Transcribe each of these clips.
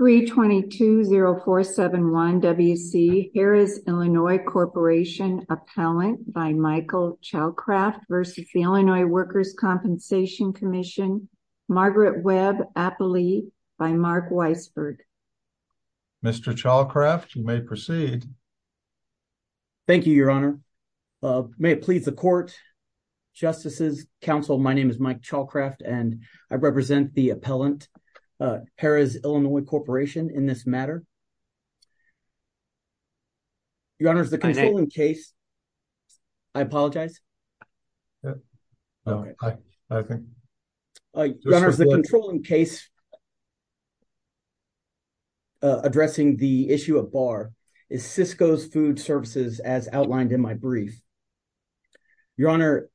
322-0471-WC Harrah's Illinois Corporation Appellant by Michael Chalkraft v. Illinois Workers' Compensation Comm'n Margaret Webb Appley by Mark Weisberg Mr. Chalkraft, you may proceed. Thank you, Your Honor. May it please the Court, Justices, Counsel, my name is Mike Chalkraft and I represent the Appellant, Harrah's Illinois Corporation in this matter. Your Honor, the controlling case, I apologize. Your Honor, the controlling case addressing the issue of BAR is Cisco's Food Services as outlined in my brief. Your Honor,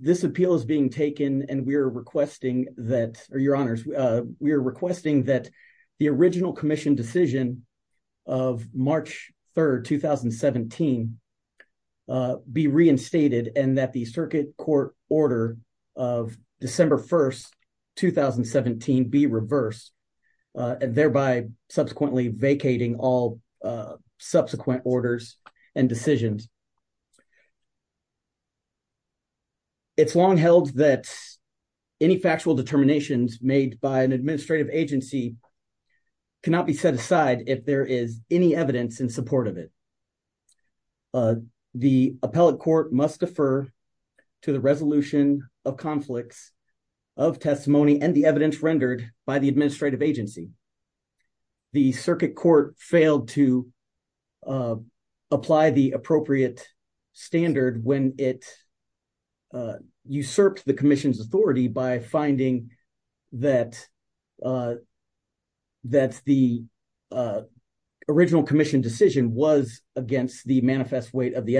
this appeal is being taken and we are requesting that, or Your Honors, we are requesting that the original Commission decision of March 3, 2017 be reinstated and that the Circuit Court order of December 1, 2017 be reversed, thereby subsequently vacating all subsequent orders and decisions. It is long held that any factual determinations made by an administrative agency cannot be set aside if there is any evidence in support of it. The Appellate Court must defer to the resolution of conflicts of testimony and the evidence rendered by the administrative agency. The Circuit Court failed to apply the appropriate standard when it usurped the Commission's authority by finding that the original Commission decision was against the manifest weight of the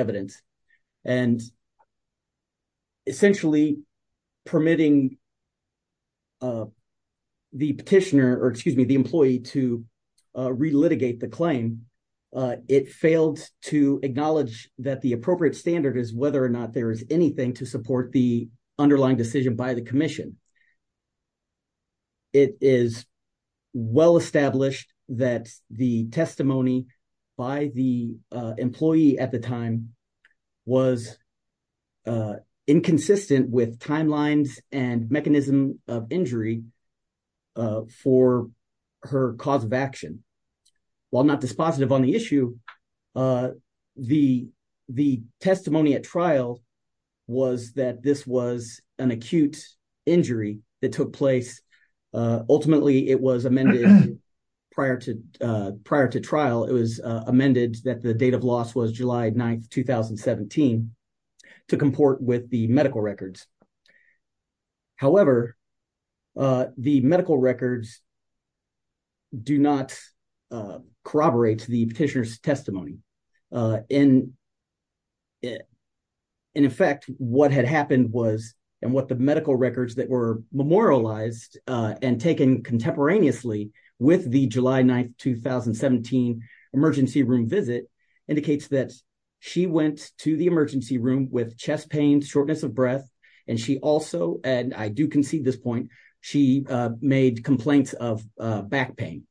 employee to re-litigate the claim. It failed to acknowledge that the appropriate standard is whether or not there is anything to support the underlying decision by the Commission. It is well established that the testimony by the employee at the time was inconsistent with timelines and mechanism of injury for her cause of action. While not dispositive on the issue, the testimony at trial was that this was an acute injury that took place. Ultimately, it was amended prior to trial. It was amended that date of loss was July 9, 2017 to comport with the medical records. However, the medical records do not corroborate the petitioner's testimony. In effect, what had happened was, and what the medical records that were memorialized and taken contemporaneously with the July 9, 2017 emergency room visit indicates that she went to the emergency room with chest pain, shortness of breath, and she also, and I do concede this point, she made complaints of back pain.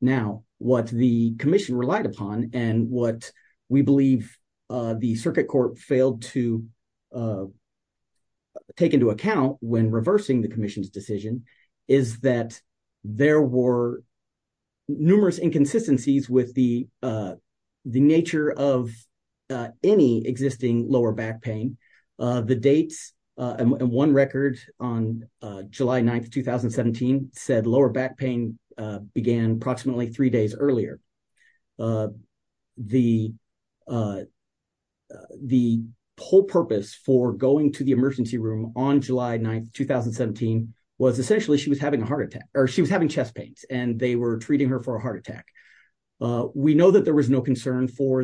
Now, what the Commission relied upon and what we believe the Circuit Court failed to take into account when the nature of any existing lower back pain, the dates, and one record on July 9, 2017 said lower back pain began approximately three days earlier. The whole purpose for going to the emergency room on July 9, 2017 was essentially she was having a heart attack, or she was having chest pains, and they were treating her for a heart attack. We know that there was no concern for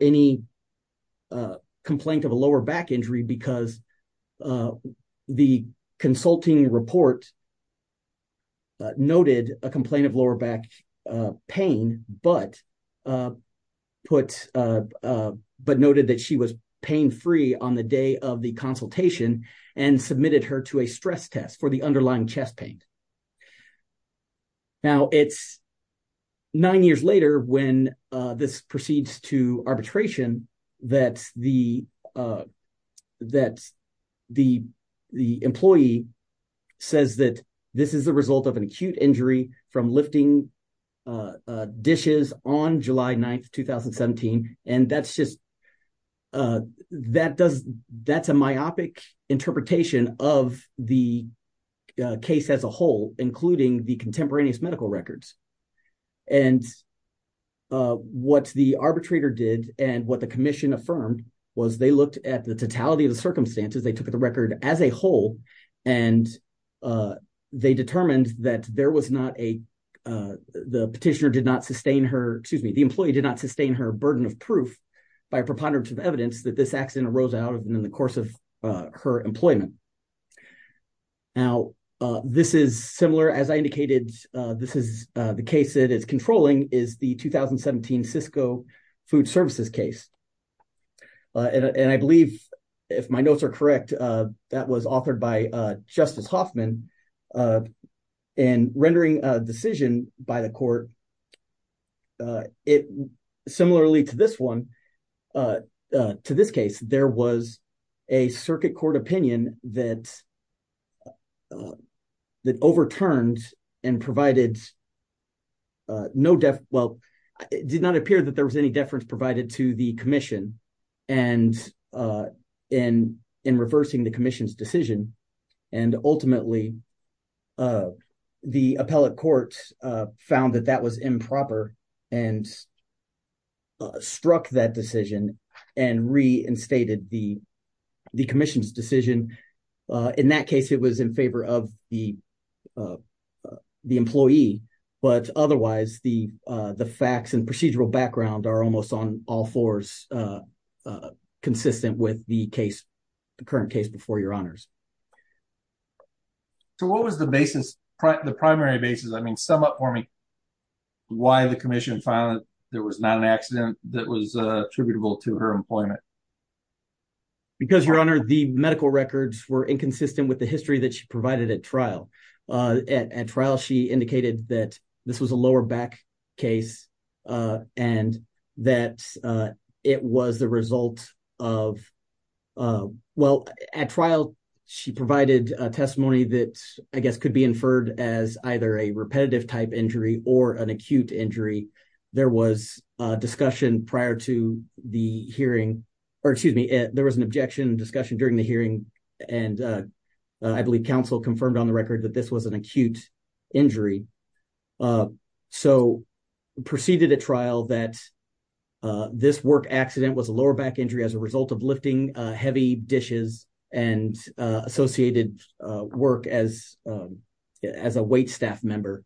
any complaint of a lower back injury because the consulting report noted a complaint of lower back pain but noted that she was pain-free on the day of the consultation and submitted her to a hospital. Now, it's nine years later when this proceeds to arbitration that the employee says that this is the result of an acute injury from lifting dishes on July 9, 2017, and that's a myopic interpretation of the case as a whole, including the contemporaneous medical records, and what the arbitrator did and what the Commission affirmed was they looked at the totality of the circumstances, they took the record as a whole, and they determined that there was not a, the petitioner did not sustain her, excuse me, the employee did not sustain her in the course of her employment. Now, this is similar, as I indicated, this is the case that is controlling is the 2017 Cisco Food Services case, and I believe if my notes are correct, that was authored by Justice Hoffman, and rendering a decision by the court, it similarly to this one, to this case, there was a circuit court opinion that overturned and provided no, well, it did not appear that there was any deference provided to the Commission, and in reversing the Commission's decision, and ultimately, the appellate court found that that was improper and struck that decision and reinstated the Commission's decision. In that case, it was in favor of the employee, but otherwise, the facts and procedural background are almost on all fours consistent with the case, the current case before honors. So what was the basis, the primary basis, I mean, sum up for me, why the Commission found there was not an accident that was attributable to her employment? Because your honor, the medical records were inconsistent with the history that she provided at trial. At trial, she indicated that this was a lower back case, and that it was the result of, well, at trial, she provided a testimony that I guess could be inferred as either a repetitive type injury or an acute injury. There was a discussion prior to the hearing, or excuse me, there was an objection discussion during the hearing, and I believe counsel confirmed on the record that this was an acute injury. So, proceeded at trial that this work accident was a lower back injury as a result of lifting heavy dishes and associated work as a waitstaff member.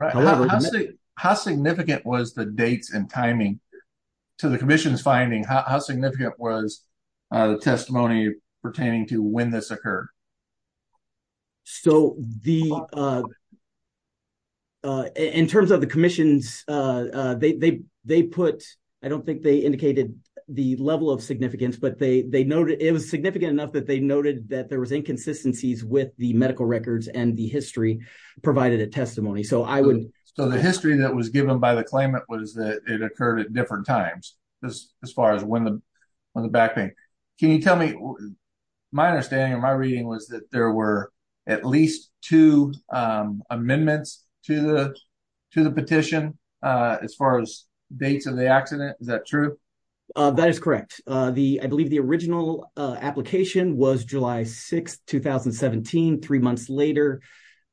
How significant was the dates and timing to the Commission's finding? How significant was the testimony pertaining to when this occurred? So, the, in terms of the Commission's, they put, I don't think they indicated the level of significance, but they noted, it was significant enough that they noted that there was inconsistencies with the medical records and the history provided a testimony. So, I would. So, the history that was given by the claimant was that it occurred at different times, as far as when the back pain. Can you tell me, my understanding of my reading was that there were at least two amendments to the petition, as far as dates of the accident. Is that true? That is correct. The, I believe the original application was July 6, 2017. Three months later,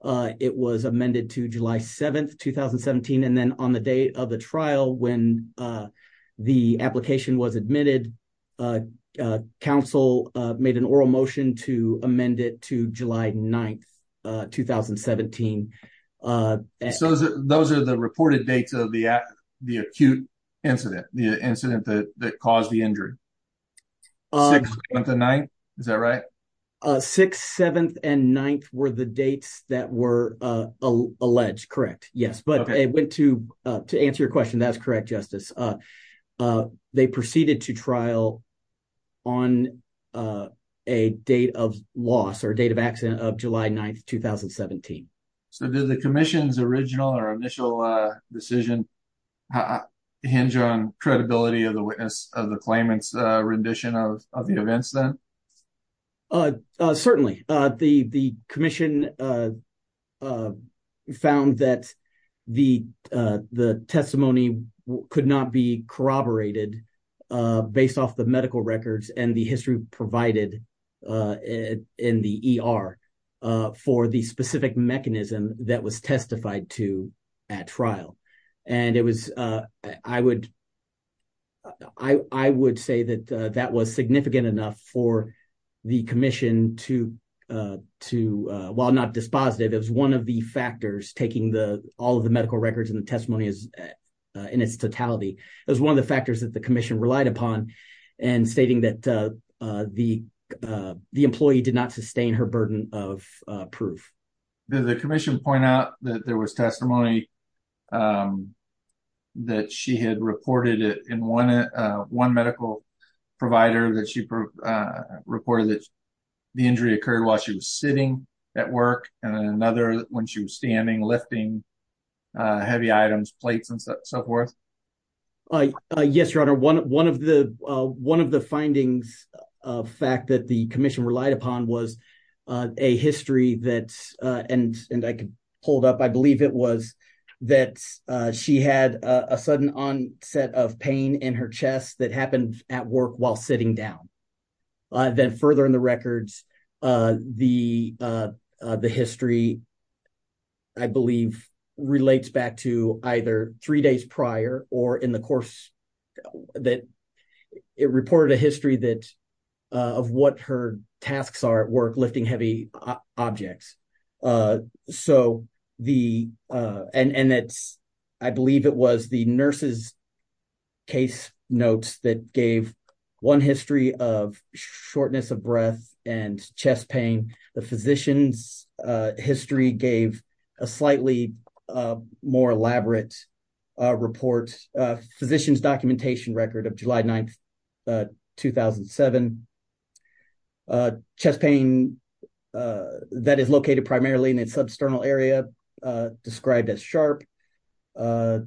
it was amended to July 7, 2017. And then on the day of the trial, when the application was admitted, counsel made an oral motion to amend it to July 9, 2017. So, those are the reported dates of the acute incident, the incident that caused the injury? Six, seven, and ninth? Is that right? Six, seventh, and ninth were the dates that were alleged. Correct. Yes. But it went to, to answer your question, that's correct, Justice. They proceeded to trial on a date of loss or date of accident of July 9, 2017. So, did the commission's original or initial decision hinge on credibility of the witness of the claimant's rendition of the events then? Uh, certainly. The, the commission, uh, uh, found that the, uh, the testimony could not be corroborated, uh, based off the medical records and the history provided, uh, in the ER, uh, for the specific mechanism that was testified to at trial. And it was, uh, I would, I, I would say that, uh, that was significant enough for the commission to, uh, to, uh, while not dispositive, it was one of the factors taking the, all of the medical records and the testimony in its totality. It was one of the factors that the commission relied upon and stating that, uh, uh, the, uh, the employee did not sustain her burden of, uh, proof. Did the commission point out that there was testimony, um, that she had reported it in one, uh, uh, one medical provider that she, uh, reported that the injury occurred while she was sitting at work and then another when she was standing, lifting, uh, heavy items, plates and stuff, so forth? Uh, uh, yes, your honor. One, one of the, uh, one of the findings of fact that the commission relied upon was, uh, a history that, uh, and, and I could hold up, I believe it was that, uh, she had a sudden onset of pain in her chest that happened at work while sitting down. Uh, then further in the records, uh, the, uh, uh, the history, I believe relates back to either three days prior or in the course that it reported a history that, uh, of what her tasks are at work, lifting heavy objects. Uh, so the, uh, and, and it's, I believe it was the nurse's case notes that gave one history of shortness of breath and chest pain. The physician's, uh, history gave a slightly, uh, more elaborate, uh, report, uh, physician's documentation record of July 9th, uh, 2007. Uh, chest pain, uh, that is located primarily in its substernal area, uh, described as sharp. Uh,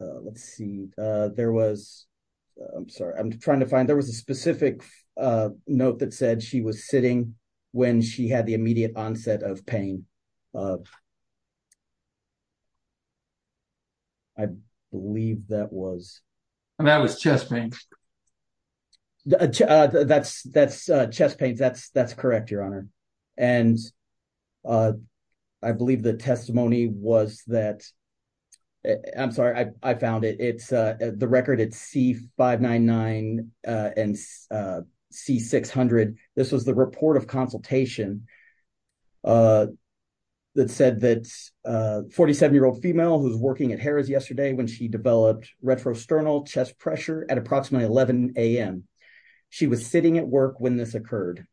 uh, let's see, uh, there was, I'm sorry, I'm trying to find, there was a specific, uh, note that said she was sitting when she had the immediate onset of pain. I believe that was, and that was chest pain. Uh, that's, that's, uh, chest pain. That's, that's correct, your honor. And, uh, I believe the testimony was that, I'm sorry, I, I found it. It's, uh, the record it's C599, uh, and, uh, C600. This was the report of consultation, uh, that said that, uh, 47-year-old female who's working at Harrah's yesterday when she developed retrosternal chest pressure at approximately 11 a.m. She was sitting at work when this occurred.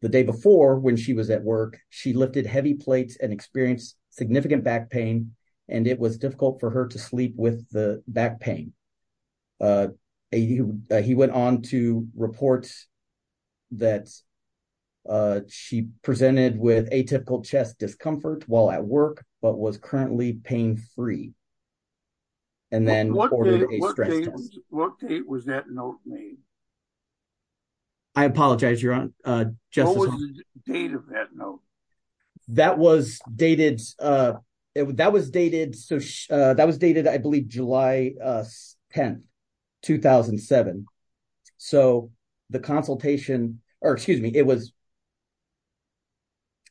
The day before, when she was at work, she lifted heavy plates and experienced significant back pain, and it was difficult for her to sleep with the back pain. Uh, he, he went on to report that, uh, she presented with atypical chest discomfort while at work, but was currently pain-free, and then ordered a stress test. What date was that note made? I apologize, your honor, uh, just- What was the date of that note? That was dated, uh, it, that was dated, so, uh, that was dated, I believe, July, uh, 10, 2007. So, the consultation, or excuse me, it was,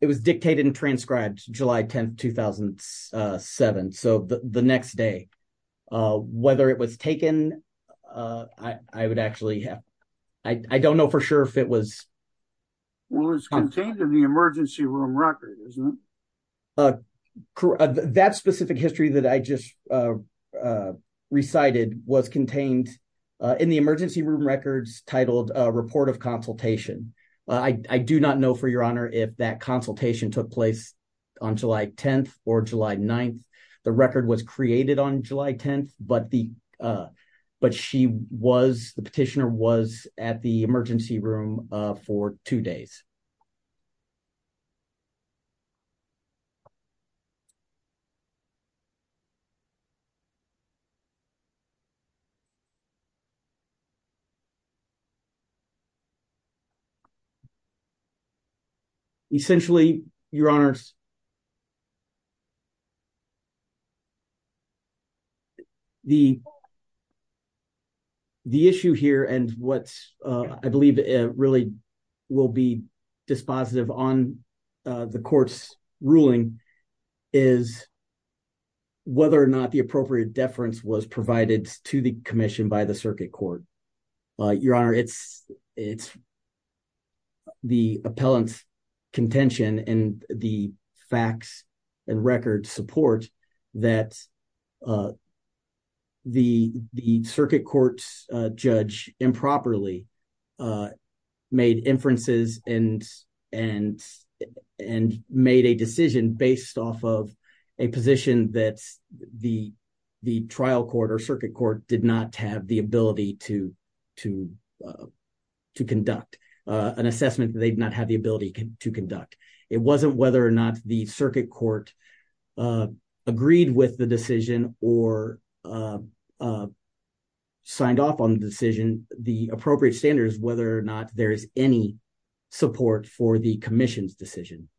it was dictated and transcribed July 10, 2007. So, the, the next day, uh, whether it was taken, uh, I, I would actually have, I, I don't know for sure if it was- Well, it's contained in the emergency room record, isn't it? That specific history that I just, uh, uh, recited was contained, uh, in the emergency room records titled, uh, report of consultation. I, I do not know, for your honor, if that consultation took place on July 10th or July 9th. The record was created on July 10th, but the, uh, but she was, the petitioner was at the emergency room, uh, for two days. Essentially, your honors, the, the issue here, and what's, uh, I believe, uh, really will be dispositive on, uh, the court's ruling is whether or not the appropriate deference was provided to the commission by the circuit court. Uh, your honor, it's, it's the appellant's contention and the facts and records support that, uh, the, the circuit court's, uh, judge improperly, uh, made inferences and, and, and made a decision based off of a position that the, the trial court or circuit court did not have the ability to, to, uh, to conduct, uh, an assessment that they did not have the ability to conduct. It wasn't whether or not the circuit court, uh, agreed with the decision or, uh, uh, signed off on the decision, the appropriate standards, whether or not there is any support for the commission's decision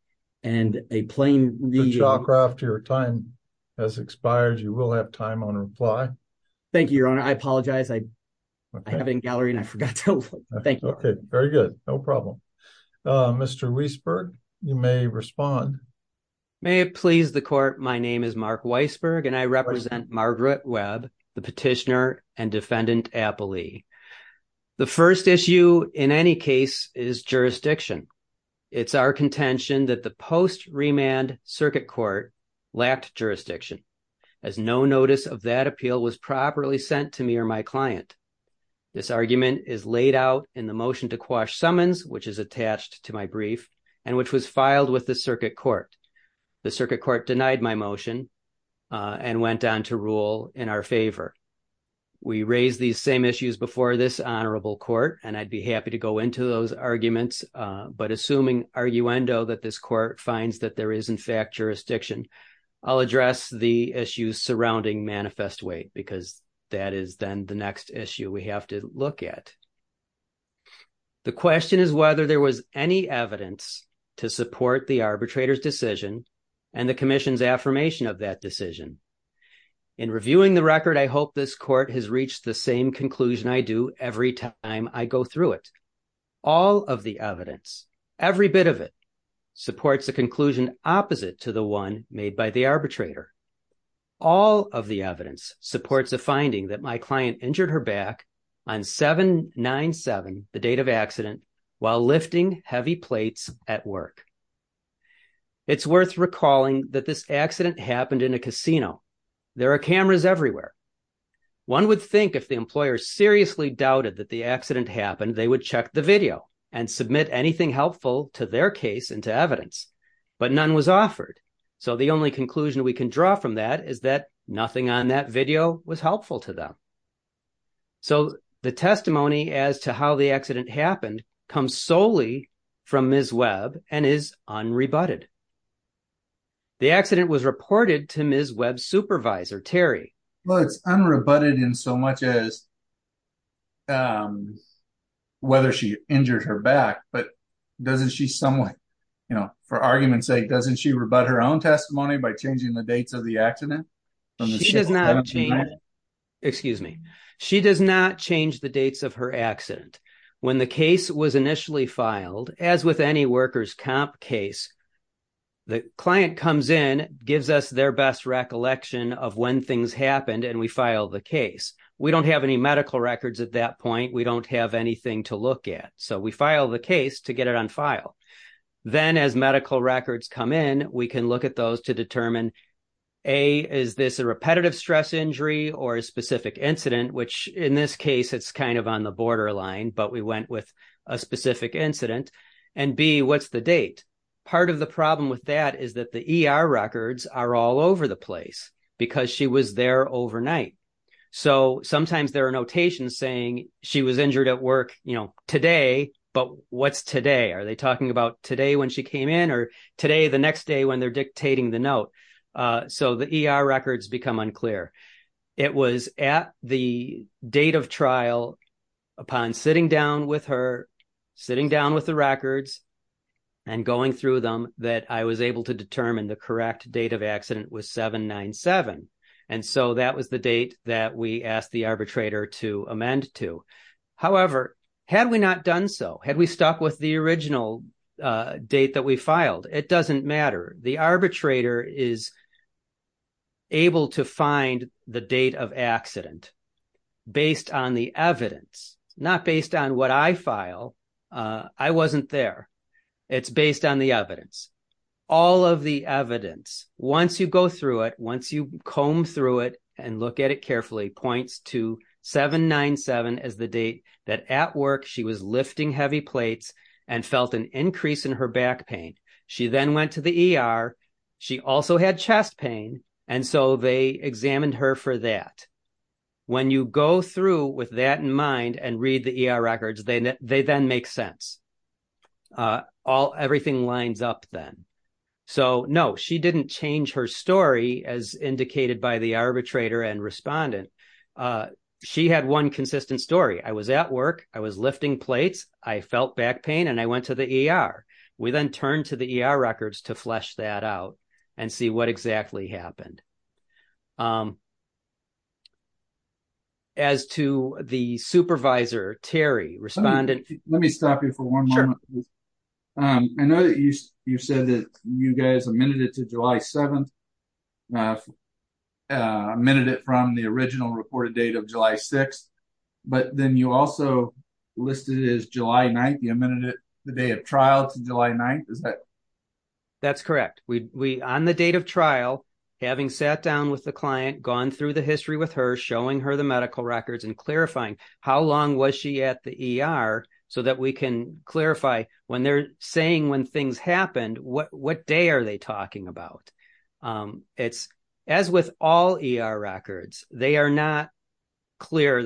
and a plane, your time has expired. You will have time on reply. Thank you, your honor. I apologize. I have it in gallery and I forgot to thank you. Okay. You may respond. May it please the court. My name is Mark Weisberg and I represent Margaret Webb, the petitioner and defendant appellee. The first issue in any case is jurisdiction. It's our contention that the post remand circuit court lacked jurisdiction as no notice of that appeal was properly sent to me or my client. This argument is laid out in the motion to quash filed with the circuit court. The circuit court denied my motion, uh, and went on to rule in our favor. We raised these same issues before this honorable court, and I'd be happy to go into those arguments. Uh, but assuming are you endo that this court finds that there is in fact jurisdiction, I'll address the issues surrounding manifest weight because that is then the next issue we have to look at. The question is whether there was any evidence to support the arbitrator's decision and the commission's affirmation of that decision. In reviewing the record, I hope this court has reached the same conclusion I do every time I go through it. All of the evidence, every bit of it supports the conclusion opposite to the one made by the arbitrator. All of the evidence supports a finding that my client injured her back on 797, the date of accident while lifting heavy plates at work. It's worth recalling that this accident happened in a casino. There are cameras everywhere. One would think if the employer seriously doubted that the accident happened, they would check the video and submit anything helpful to their case into evidence, but none was offered. So the only conclusion we can draw from that is that nothing on that video was helpful to them. So the testimony as to how the accident happened comes solely from Ms. Webb and is unrebutted. The accident was reported to Ms. Webb's supervisor, Terry. Well, it's unrebutted in so much as, um, whether she injured her back, but doesn't she you know, for argument's sake, doesn't she rebut her own testimony by changing the dates of the accident? She does not change, excuse me, she does not change the dates of her accident. When the case was initially filed, as with any workers' comp case, the client comes in, gives us their best recollection of when things happened, and we file the case. We don't have any medical records at that point. We don't have anything to look at. So we file the case to get it on file. Then as medical records come in, we can look at those to determine, A, is this a repetitive stress injury or a specific incident? Which in this case, it's kind of on the border line, but we went with a specific incident. And B, what's the date? Part of the problem with that is that the ER records are all over the place because she was there overnight. So sometimes there are notations saying she was injured at work today, but what's today? Are they talking about today when she came in or today, the next day when they're dictating the note? So the ER records become unclear. It was at the date of trial, upon sitting down with her, sitting down with the records, and going through them, that I was able to determine the correct date of accident was 7-9-7. And so that was the date that we asked the arbitrator to amend to. However, had we not done so, had we stuck with the original date that we filed, it doesn't matter. The arbitrator is able to find the date of accident based on the evidence, not based on what I file. I wasn't there. It's based on the evidence. All of the evidence, once you go through it, once you comb through it and look at it carefully, points to 7-9-7 as the date that at work she was lifting heavy plates and felt an increase in her back pain. She then went to the ER. She also had chest pain, and so they examined her for that. When you go through with that in mind and read the ER records, they then make sense. Everything lines up then. So no, she didn't change her story as indicated by the arbitrator and respondent. She had one consistent story. I was at work. I was lifting plates. I felt back pain, and I went to the ER. We then turned to records to flesh that out and see what exactly happened. As to the supervisor, Terry responded... Let me stop you for one moment. I know that you said that you guys amended it to July 7th, amended it from the original reported date of July 6th, but then you also listed it as July 9th. The day of trial to July 9th, is that correct? That's correct. On the date of trial, having sat down with the client, gone through the history with her, showing her the medical records, and clarifying how long was she at the ER so that we can clarify when they're saying when things happened, what day are they talking about? As with all ER records, they are not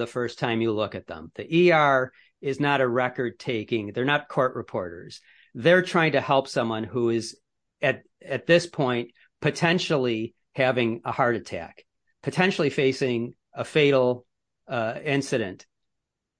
first time you look at them. The ER is not a record taking. They're not court reporters. They're trying to help someone who is at this point, potentially having a heart attack, potentially facing a fatal incident.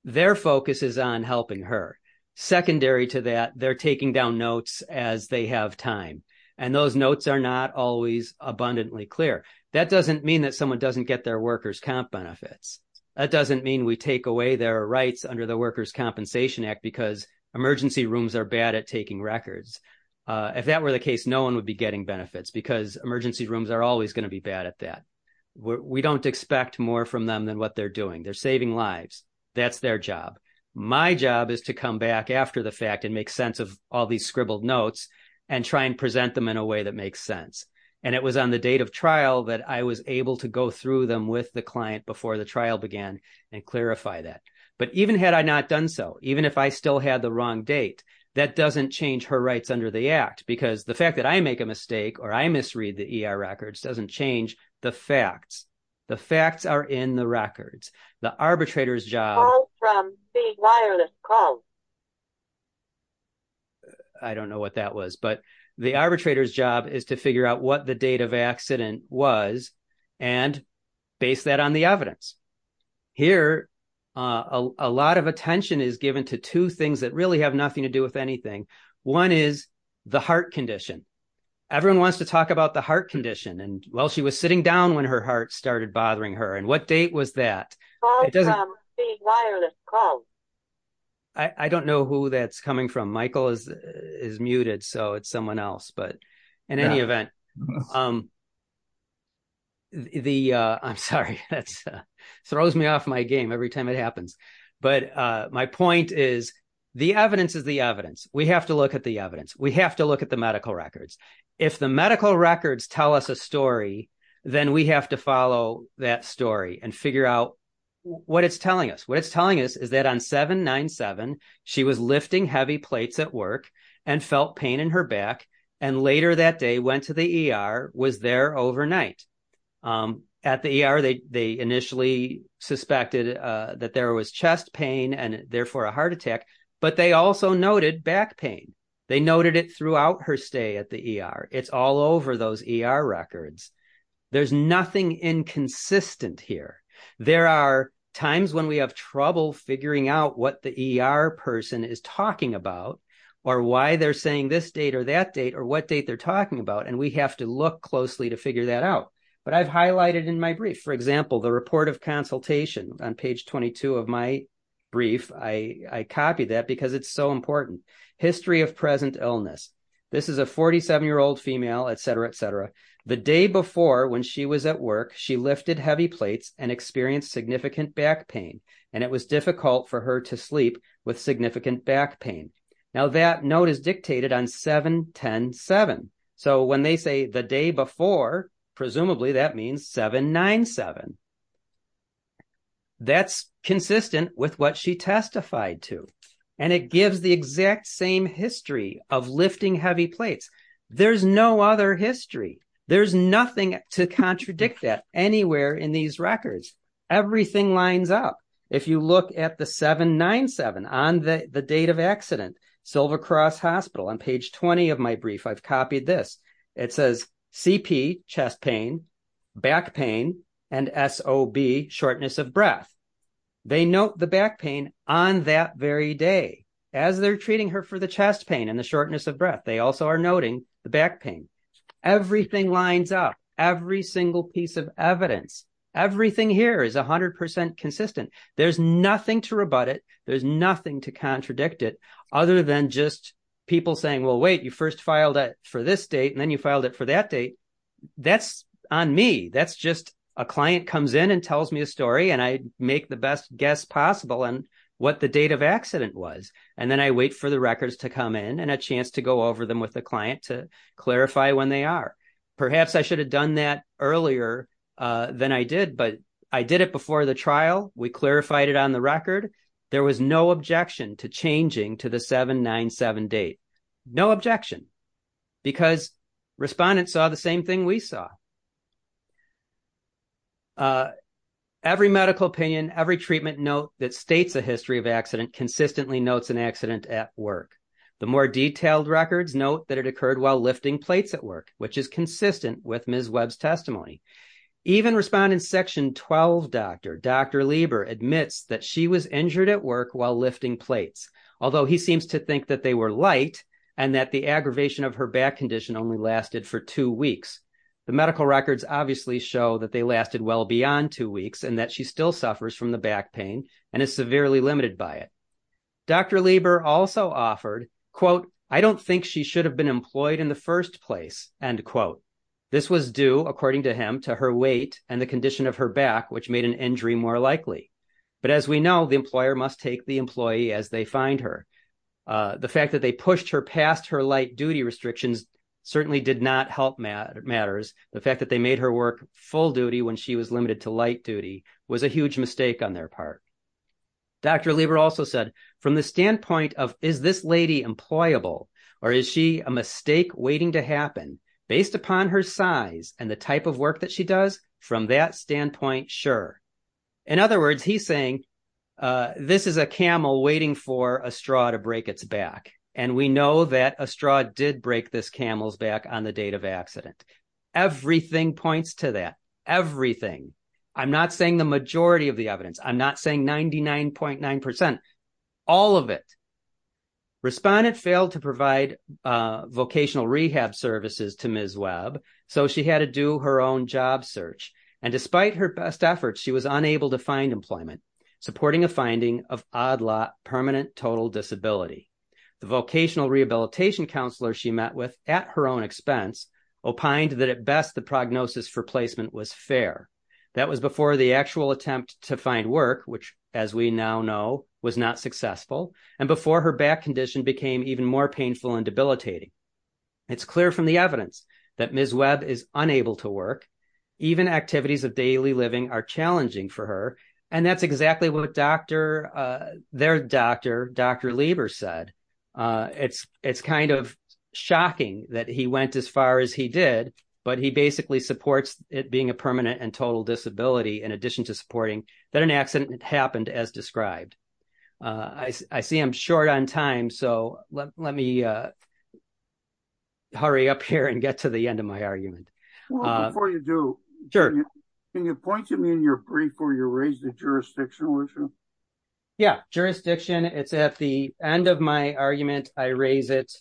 Their focus is on helping her. Secondary to that, they're taking down notes as they have time. Those notes are not always abundantly clear. That doesn't mean that someone doesn't get their workers' comp benefits. That doesn't mean we take away their rights under the Workers' Compensation Act because emergency rooms are bad at taking records. If that were the case, no one would be getting benefits because emergency rooms are always going to be bad at that. We don't expect more from them than what they're doing. They're saving lives. That's their job. My job is to come back after the fact and make sense of all these scribbled notes and try and present them in a way that I was able to go through them with the client before the trial began and clarify that. But even had I not done so, even if I still had the wrong date, that doesn't change her rights under the Act because the fact that I make a mistake or I misread the ER records doesn't change the facts. The facts are in the records. The arbitrator's job... I don't know what that was, but the arbitrator's job is to figure out what the date of accident was and base that on the evidence. Here, a lot of attention is given to two things that really have nothing to do with anything. One is the heart condition. Everyone wants to talk about the heart condition. Well, she was sitting down when her heart started bothering her. What date was that? It doesn't... I don't know who that's coming from. Michael is muted, so it's someone else. But in any event, I'm sorry. That throws me off my game every time it happens. But my point is the evidence is the evidence. We have to look at the evidence. We have to look at the medical records. If the medical records tell us a story, then we have to follow that story and figure out what it's telling us. What it's telling us is that on 7-9-7, she was lifting heavy plates at work and felt pain in her back, and later that day went to the ER, was there overnight. At the ER, they initially suspected that there was chest pain and therefore a heart attack, but they also noted back pain. They noted it throughout her stay at the ER. It's all over those ER records. There's nothing inconsistent here. There are times when we have trouble figuring out what the ER person is talking about or why they're saying this date or that date or what date they're talking about, and we have to look closely to figure that out. But I've highlighted in my brief, for example, the report of consultation on page 22 of my brief. I copied that because it's so important. History of present illness. This is a 47-year-old female, etc., etc. The day before when she was at work, she lifted heavy plates and experienced significant back pain, and it was difficult for her to sleep with significant back pain. Now that note is dictated on 7-10-7. So when they say the day before, presumably that means 7-9-7. That's consistent with what she testified to, and it gives the exact same history of lifting heavy plates. There's no other history. There's nothing to contradict that anywhere in these records. Everything lines up. If you look at the 7-9-7 on the date of accident, Silver Cross Hospital, on page 20 of my brief, I've copied this. It says CP, chest pain, back pain, and SOB, shortness of breath. They note the back pain on that very day as they're treating her for the chest pain and the shortness of breath. They also are noting the back pain. Everything lines up, every single piece of evidence. Everything here is 100% consistent. There's nothing to rebut it. There's nothing to contradict it other than just people saying, well, wait, you first filed it for this date, and then you filed it for that date. That's on me. That's just a client comes in and tells me a story, and I make the best guess possible on what the date of accident was. And then I wait for the records to come in and a chance to go over them with the client to clarify when they are. Perhaps I should have done that earlier than I did, but I did it before the record. There was no objection to changing to the 7-9-7 date. No objection because respondents saw the same thing we saw. Every medical opinion, every treatment note that states a history of accident consistently notes an accident at work. The more detailed records note that it occurred while lifting plates at work, which is consistent with Ms. Webb's testimony. Even respondent section 12 doctor, Dr. Lieber admits that she was injured at work while lifting plates, although he seems to think that they were light and that the aggravation of her back condition only lasted for two weeks. The medical records obviously show that they lasted well beyond two weeks and that she still suffers from the back pain and is severely limited by it. Dr. Lieber also offered, quote, I don't think she should have been employed in the first place, end quote. This was due, according to him, to her weight and the condition of her back, which made an injury more likely. But as we know, the employer must take the employee as they find her. The fact that they pushed her past her light duty restrictions certainly did not help matters. The fact that they made her work full duty when she was limited to light duty was a huge mistake on their part. Dr. Lieber also said, from the standpoint of is this lady employable or is she a mistake waiting to happen, based upon her size and the type of work that she does, from that standpoint, sure. In other words, he's saying this is a camel waiting for a straw to break its back. And we know that a straw did break this camel's back on the date of accident. Everything points to that. Everything. I'm not saying the majority of the evidence. I'm not saying 99.9%. All of it. Respondent failed to do her own job search. And despite her best efforts, she was unable to find employment, supporting a finding of odd lot permanent total disability. The vocational rehabilitation counselor she met with at her own expense opined that at best the prognosis for placement was fair. That was before the actual attempt to find work, which, as we now know, was not successful. And before her back condition became even more painful and debilitating. It's clear from the evidence that Ms. Webb is unable to work. Even activities of daily living are challenging for her. And that's exactly what their doctor, Dr. Lieber said. It's kind of shocking that he went as far as he did, but he basically supports it being a permanent and total disability in addition to supporting that an accident happened as described. I see I'm short on time. So let me hurry up here and get to the end of my argument. Before you do, can you point to me in your brief where you raise the jurisdiction? Yeah, jurisdiction. It's at the end of my argument. I raise it.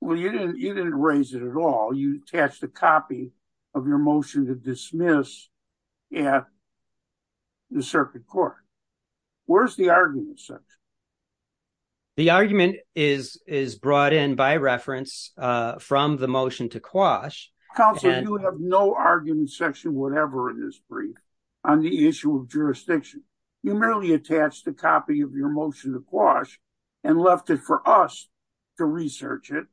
Well, you didn't raise it at all. You attached a copy of your motion to dismiss at the circuit court. Where's the argument section? The argument is brought in by reference from the motion to quash. Counselor, you have no argument section whatever in this brief on the issue of jurisdiction. You merely attached a copy of your motion to quash and left it for us to research it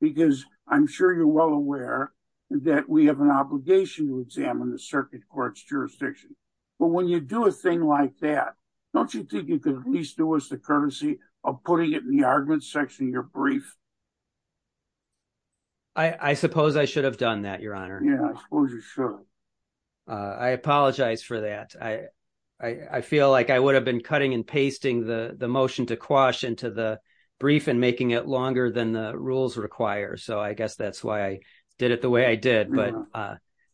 because I'm sure you're well aware that we have an obligation to examine the circuit court's jurisdiction. But when you do a thing like that, don't you think you could at least do us the courtesy of putting it in the argument section of your brief? I suppose I should have done that, Your Honor. Yeah, I suppose you should. I apologize for that. I feel like I would have been cutting and pasting the motion to quash into the brief and making it longer than the rules require. I guess that's why I did it the way I did.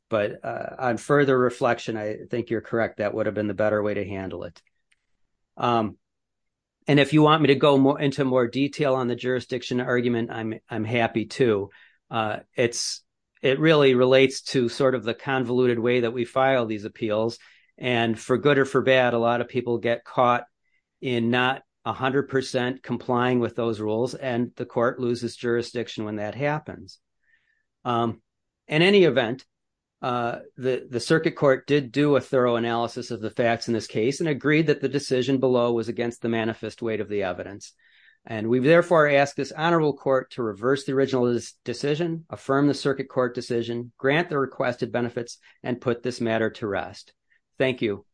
But on further reflection, I think you're correct. That would have been the better way to handle it. If you want me to go into more detail on the jurisdiction argument, I'm happy to. It really relates to the convoluted way that we file these appeals. For good or for bad, a lot of people get caught in not 100% complying with those rules, and the court loses jurisdiction when that happens. In any event, the circuit court did do a thorough analysis of the facts in this case and agreed that the decision below was against the manifest weight of the evidence. We've therefore asked this honorable court to reverse the original decision, affirm the circuit court decision, grant the requested benefits, and put this matter to rest. Thank you.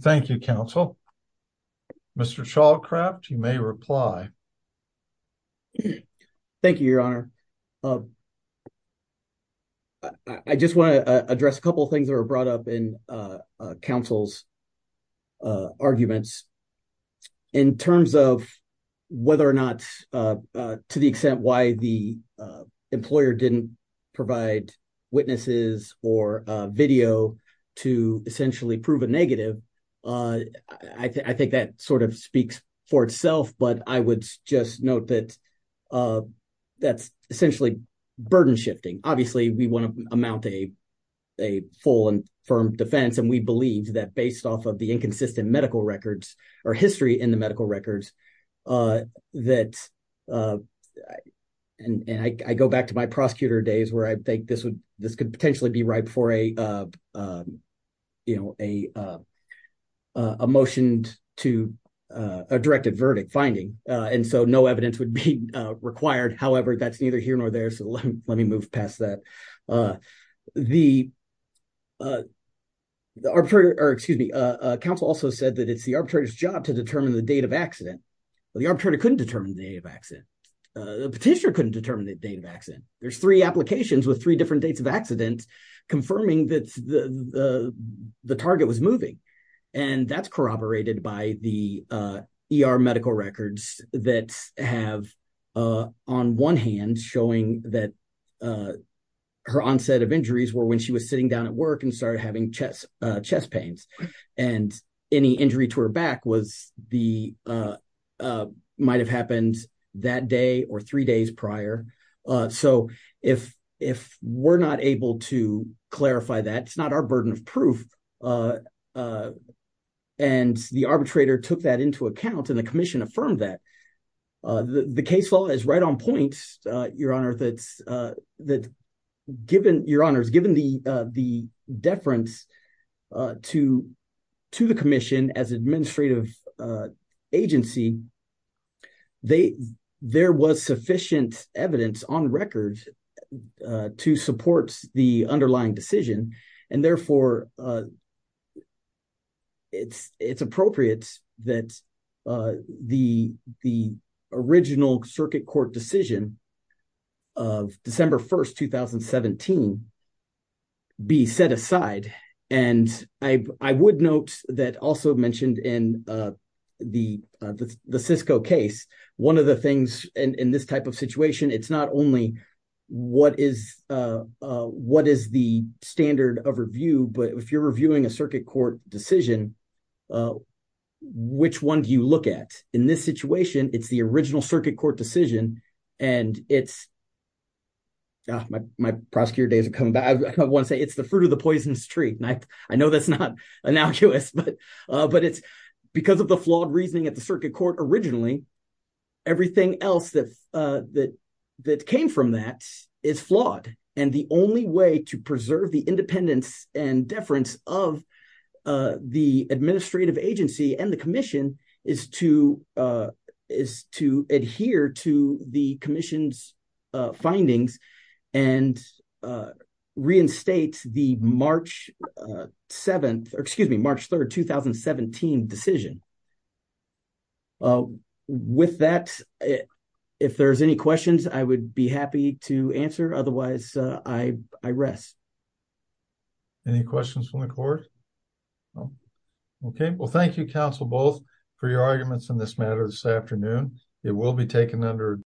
Thank you, counsel. Mr. Shawcraft, you may reply. Thank you, your honor. I just want to address a couple of things that were brought up in counsel's arguments. In terms of whether or not, to the extent why the employer didn't provide witnesses or video to essentially prove a negative, I think that sort of speaks for itself, but I would just note that that's essentially burden shifting. Obviously, we want to amount to a full and firm defense, and we believe that based off of the inconsistent medical records or history in the medical records, and I go back to my prosecutor days where I think this could potentially be right before a motioned to a directive verdict finding, and so no evidence would be required. However, that's neither here nor there, so let me move past that. Counsel also said that it's the arbitrator's job to determine the date of accident, but the arbitrator couldn't determine the date of accident. The petitioner couldn't determine the date of accident. There's three applications with three different dates of accidents confirming that the target was moving, and that's corroborated by the ER medical records that have, on one hand, showing that her onset of injuries were when she was sitting down at work and started having chest pains, and any injury to her back might have happened that day or three prior. So if we're not able to clarify that, it's not our burden of proof, and the arbitrator took that into account, and the commission affirmed that. The case law is right on point, Your Honor, that given the deference to the commission as sufficient evidence on record to support the underlying decision, and therefore it's appropriate that the original circuit court decision of December 1st, 2017 be set aside, and I would note that also mentioned in the Cisco case, one of the things, and in this type of situation, it's not only what is the standard of review, but if you're reviewing a circuit court decision, which one do you look at? In this situation, it's the original circuit court decision, and it's, my prosecutor days are coming back. I want to say it's the fruit of the poisonous tree, and I know that's not innocuous, but it's because of the flawed that came from that. It's flawed, and the only way to preserve the independence and deference of the administrative agency and the commission is to adhere to the commission's findings and reinstate the March 7th, or excuse me, March 3rd, 2017 decision. With that, if there's any questions, I would be happy to answer. Otherwise, I rest. Any questions from the court? Okay. Well, thank you, counsel, both, for your arguments in this matter this afternoon. It will be taken under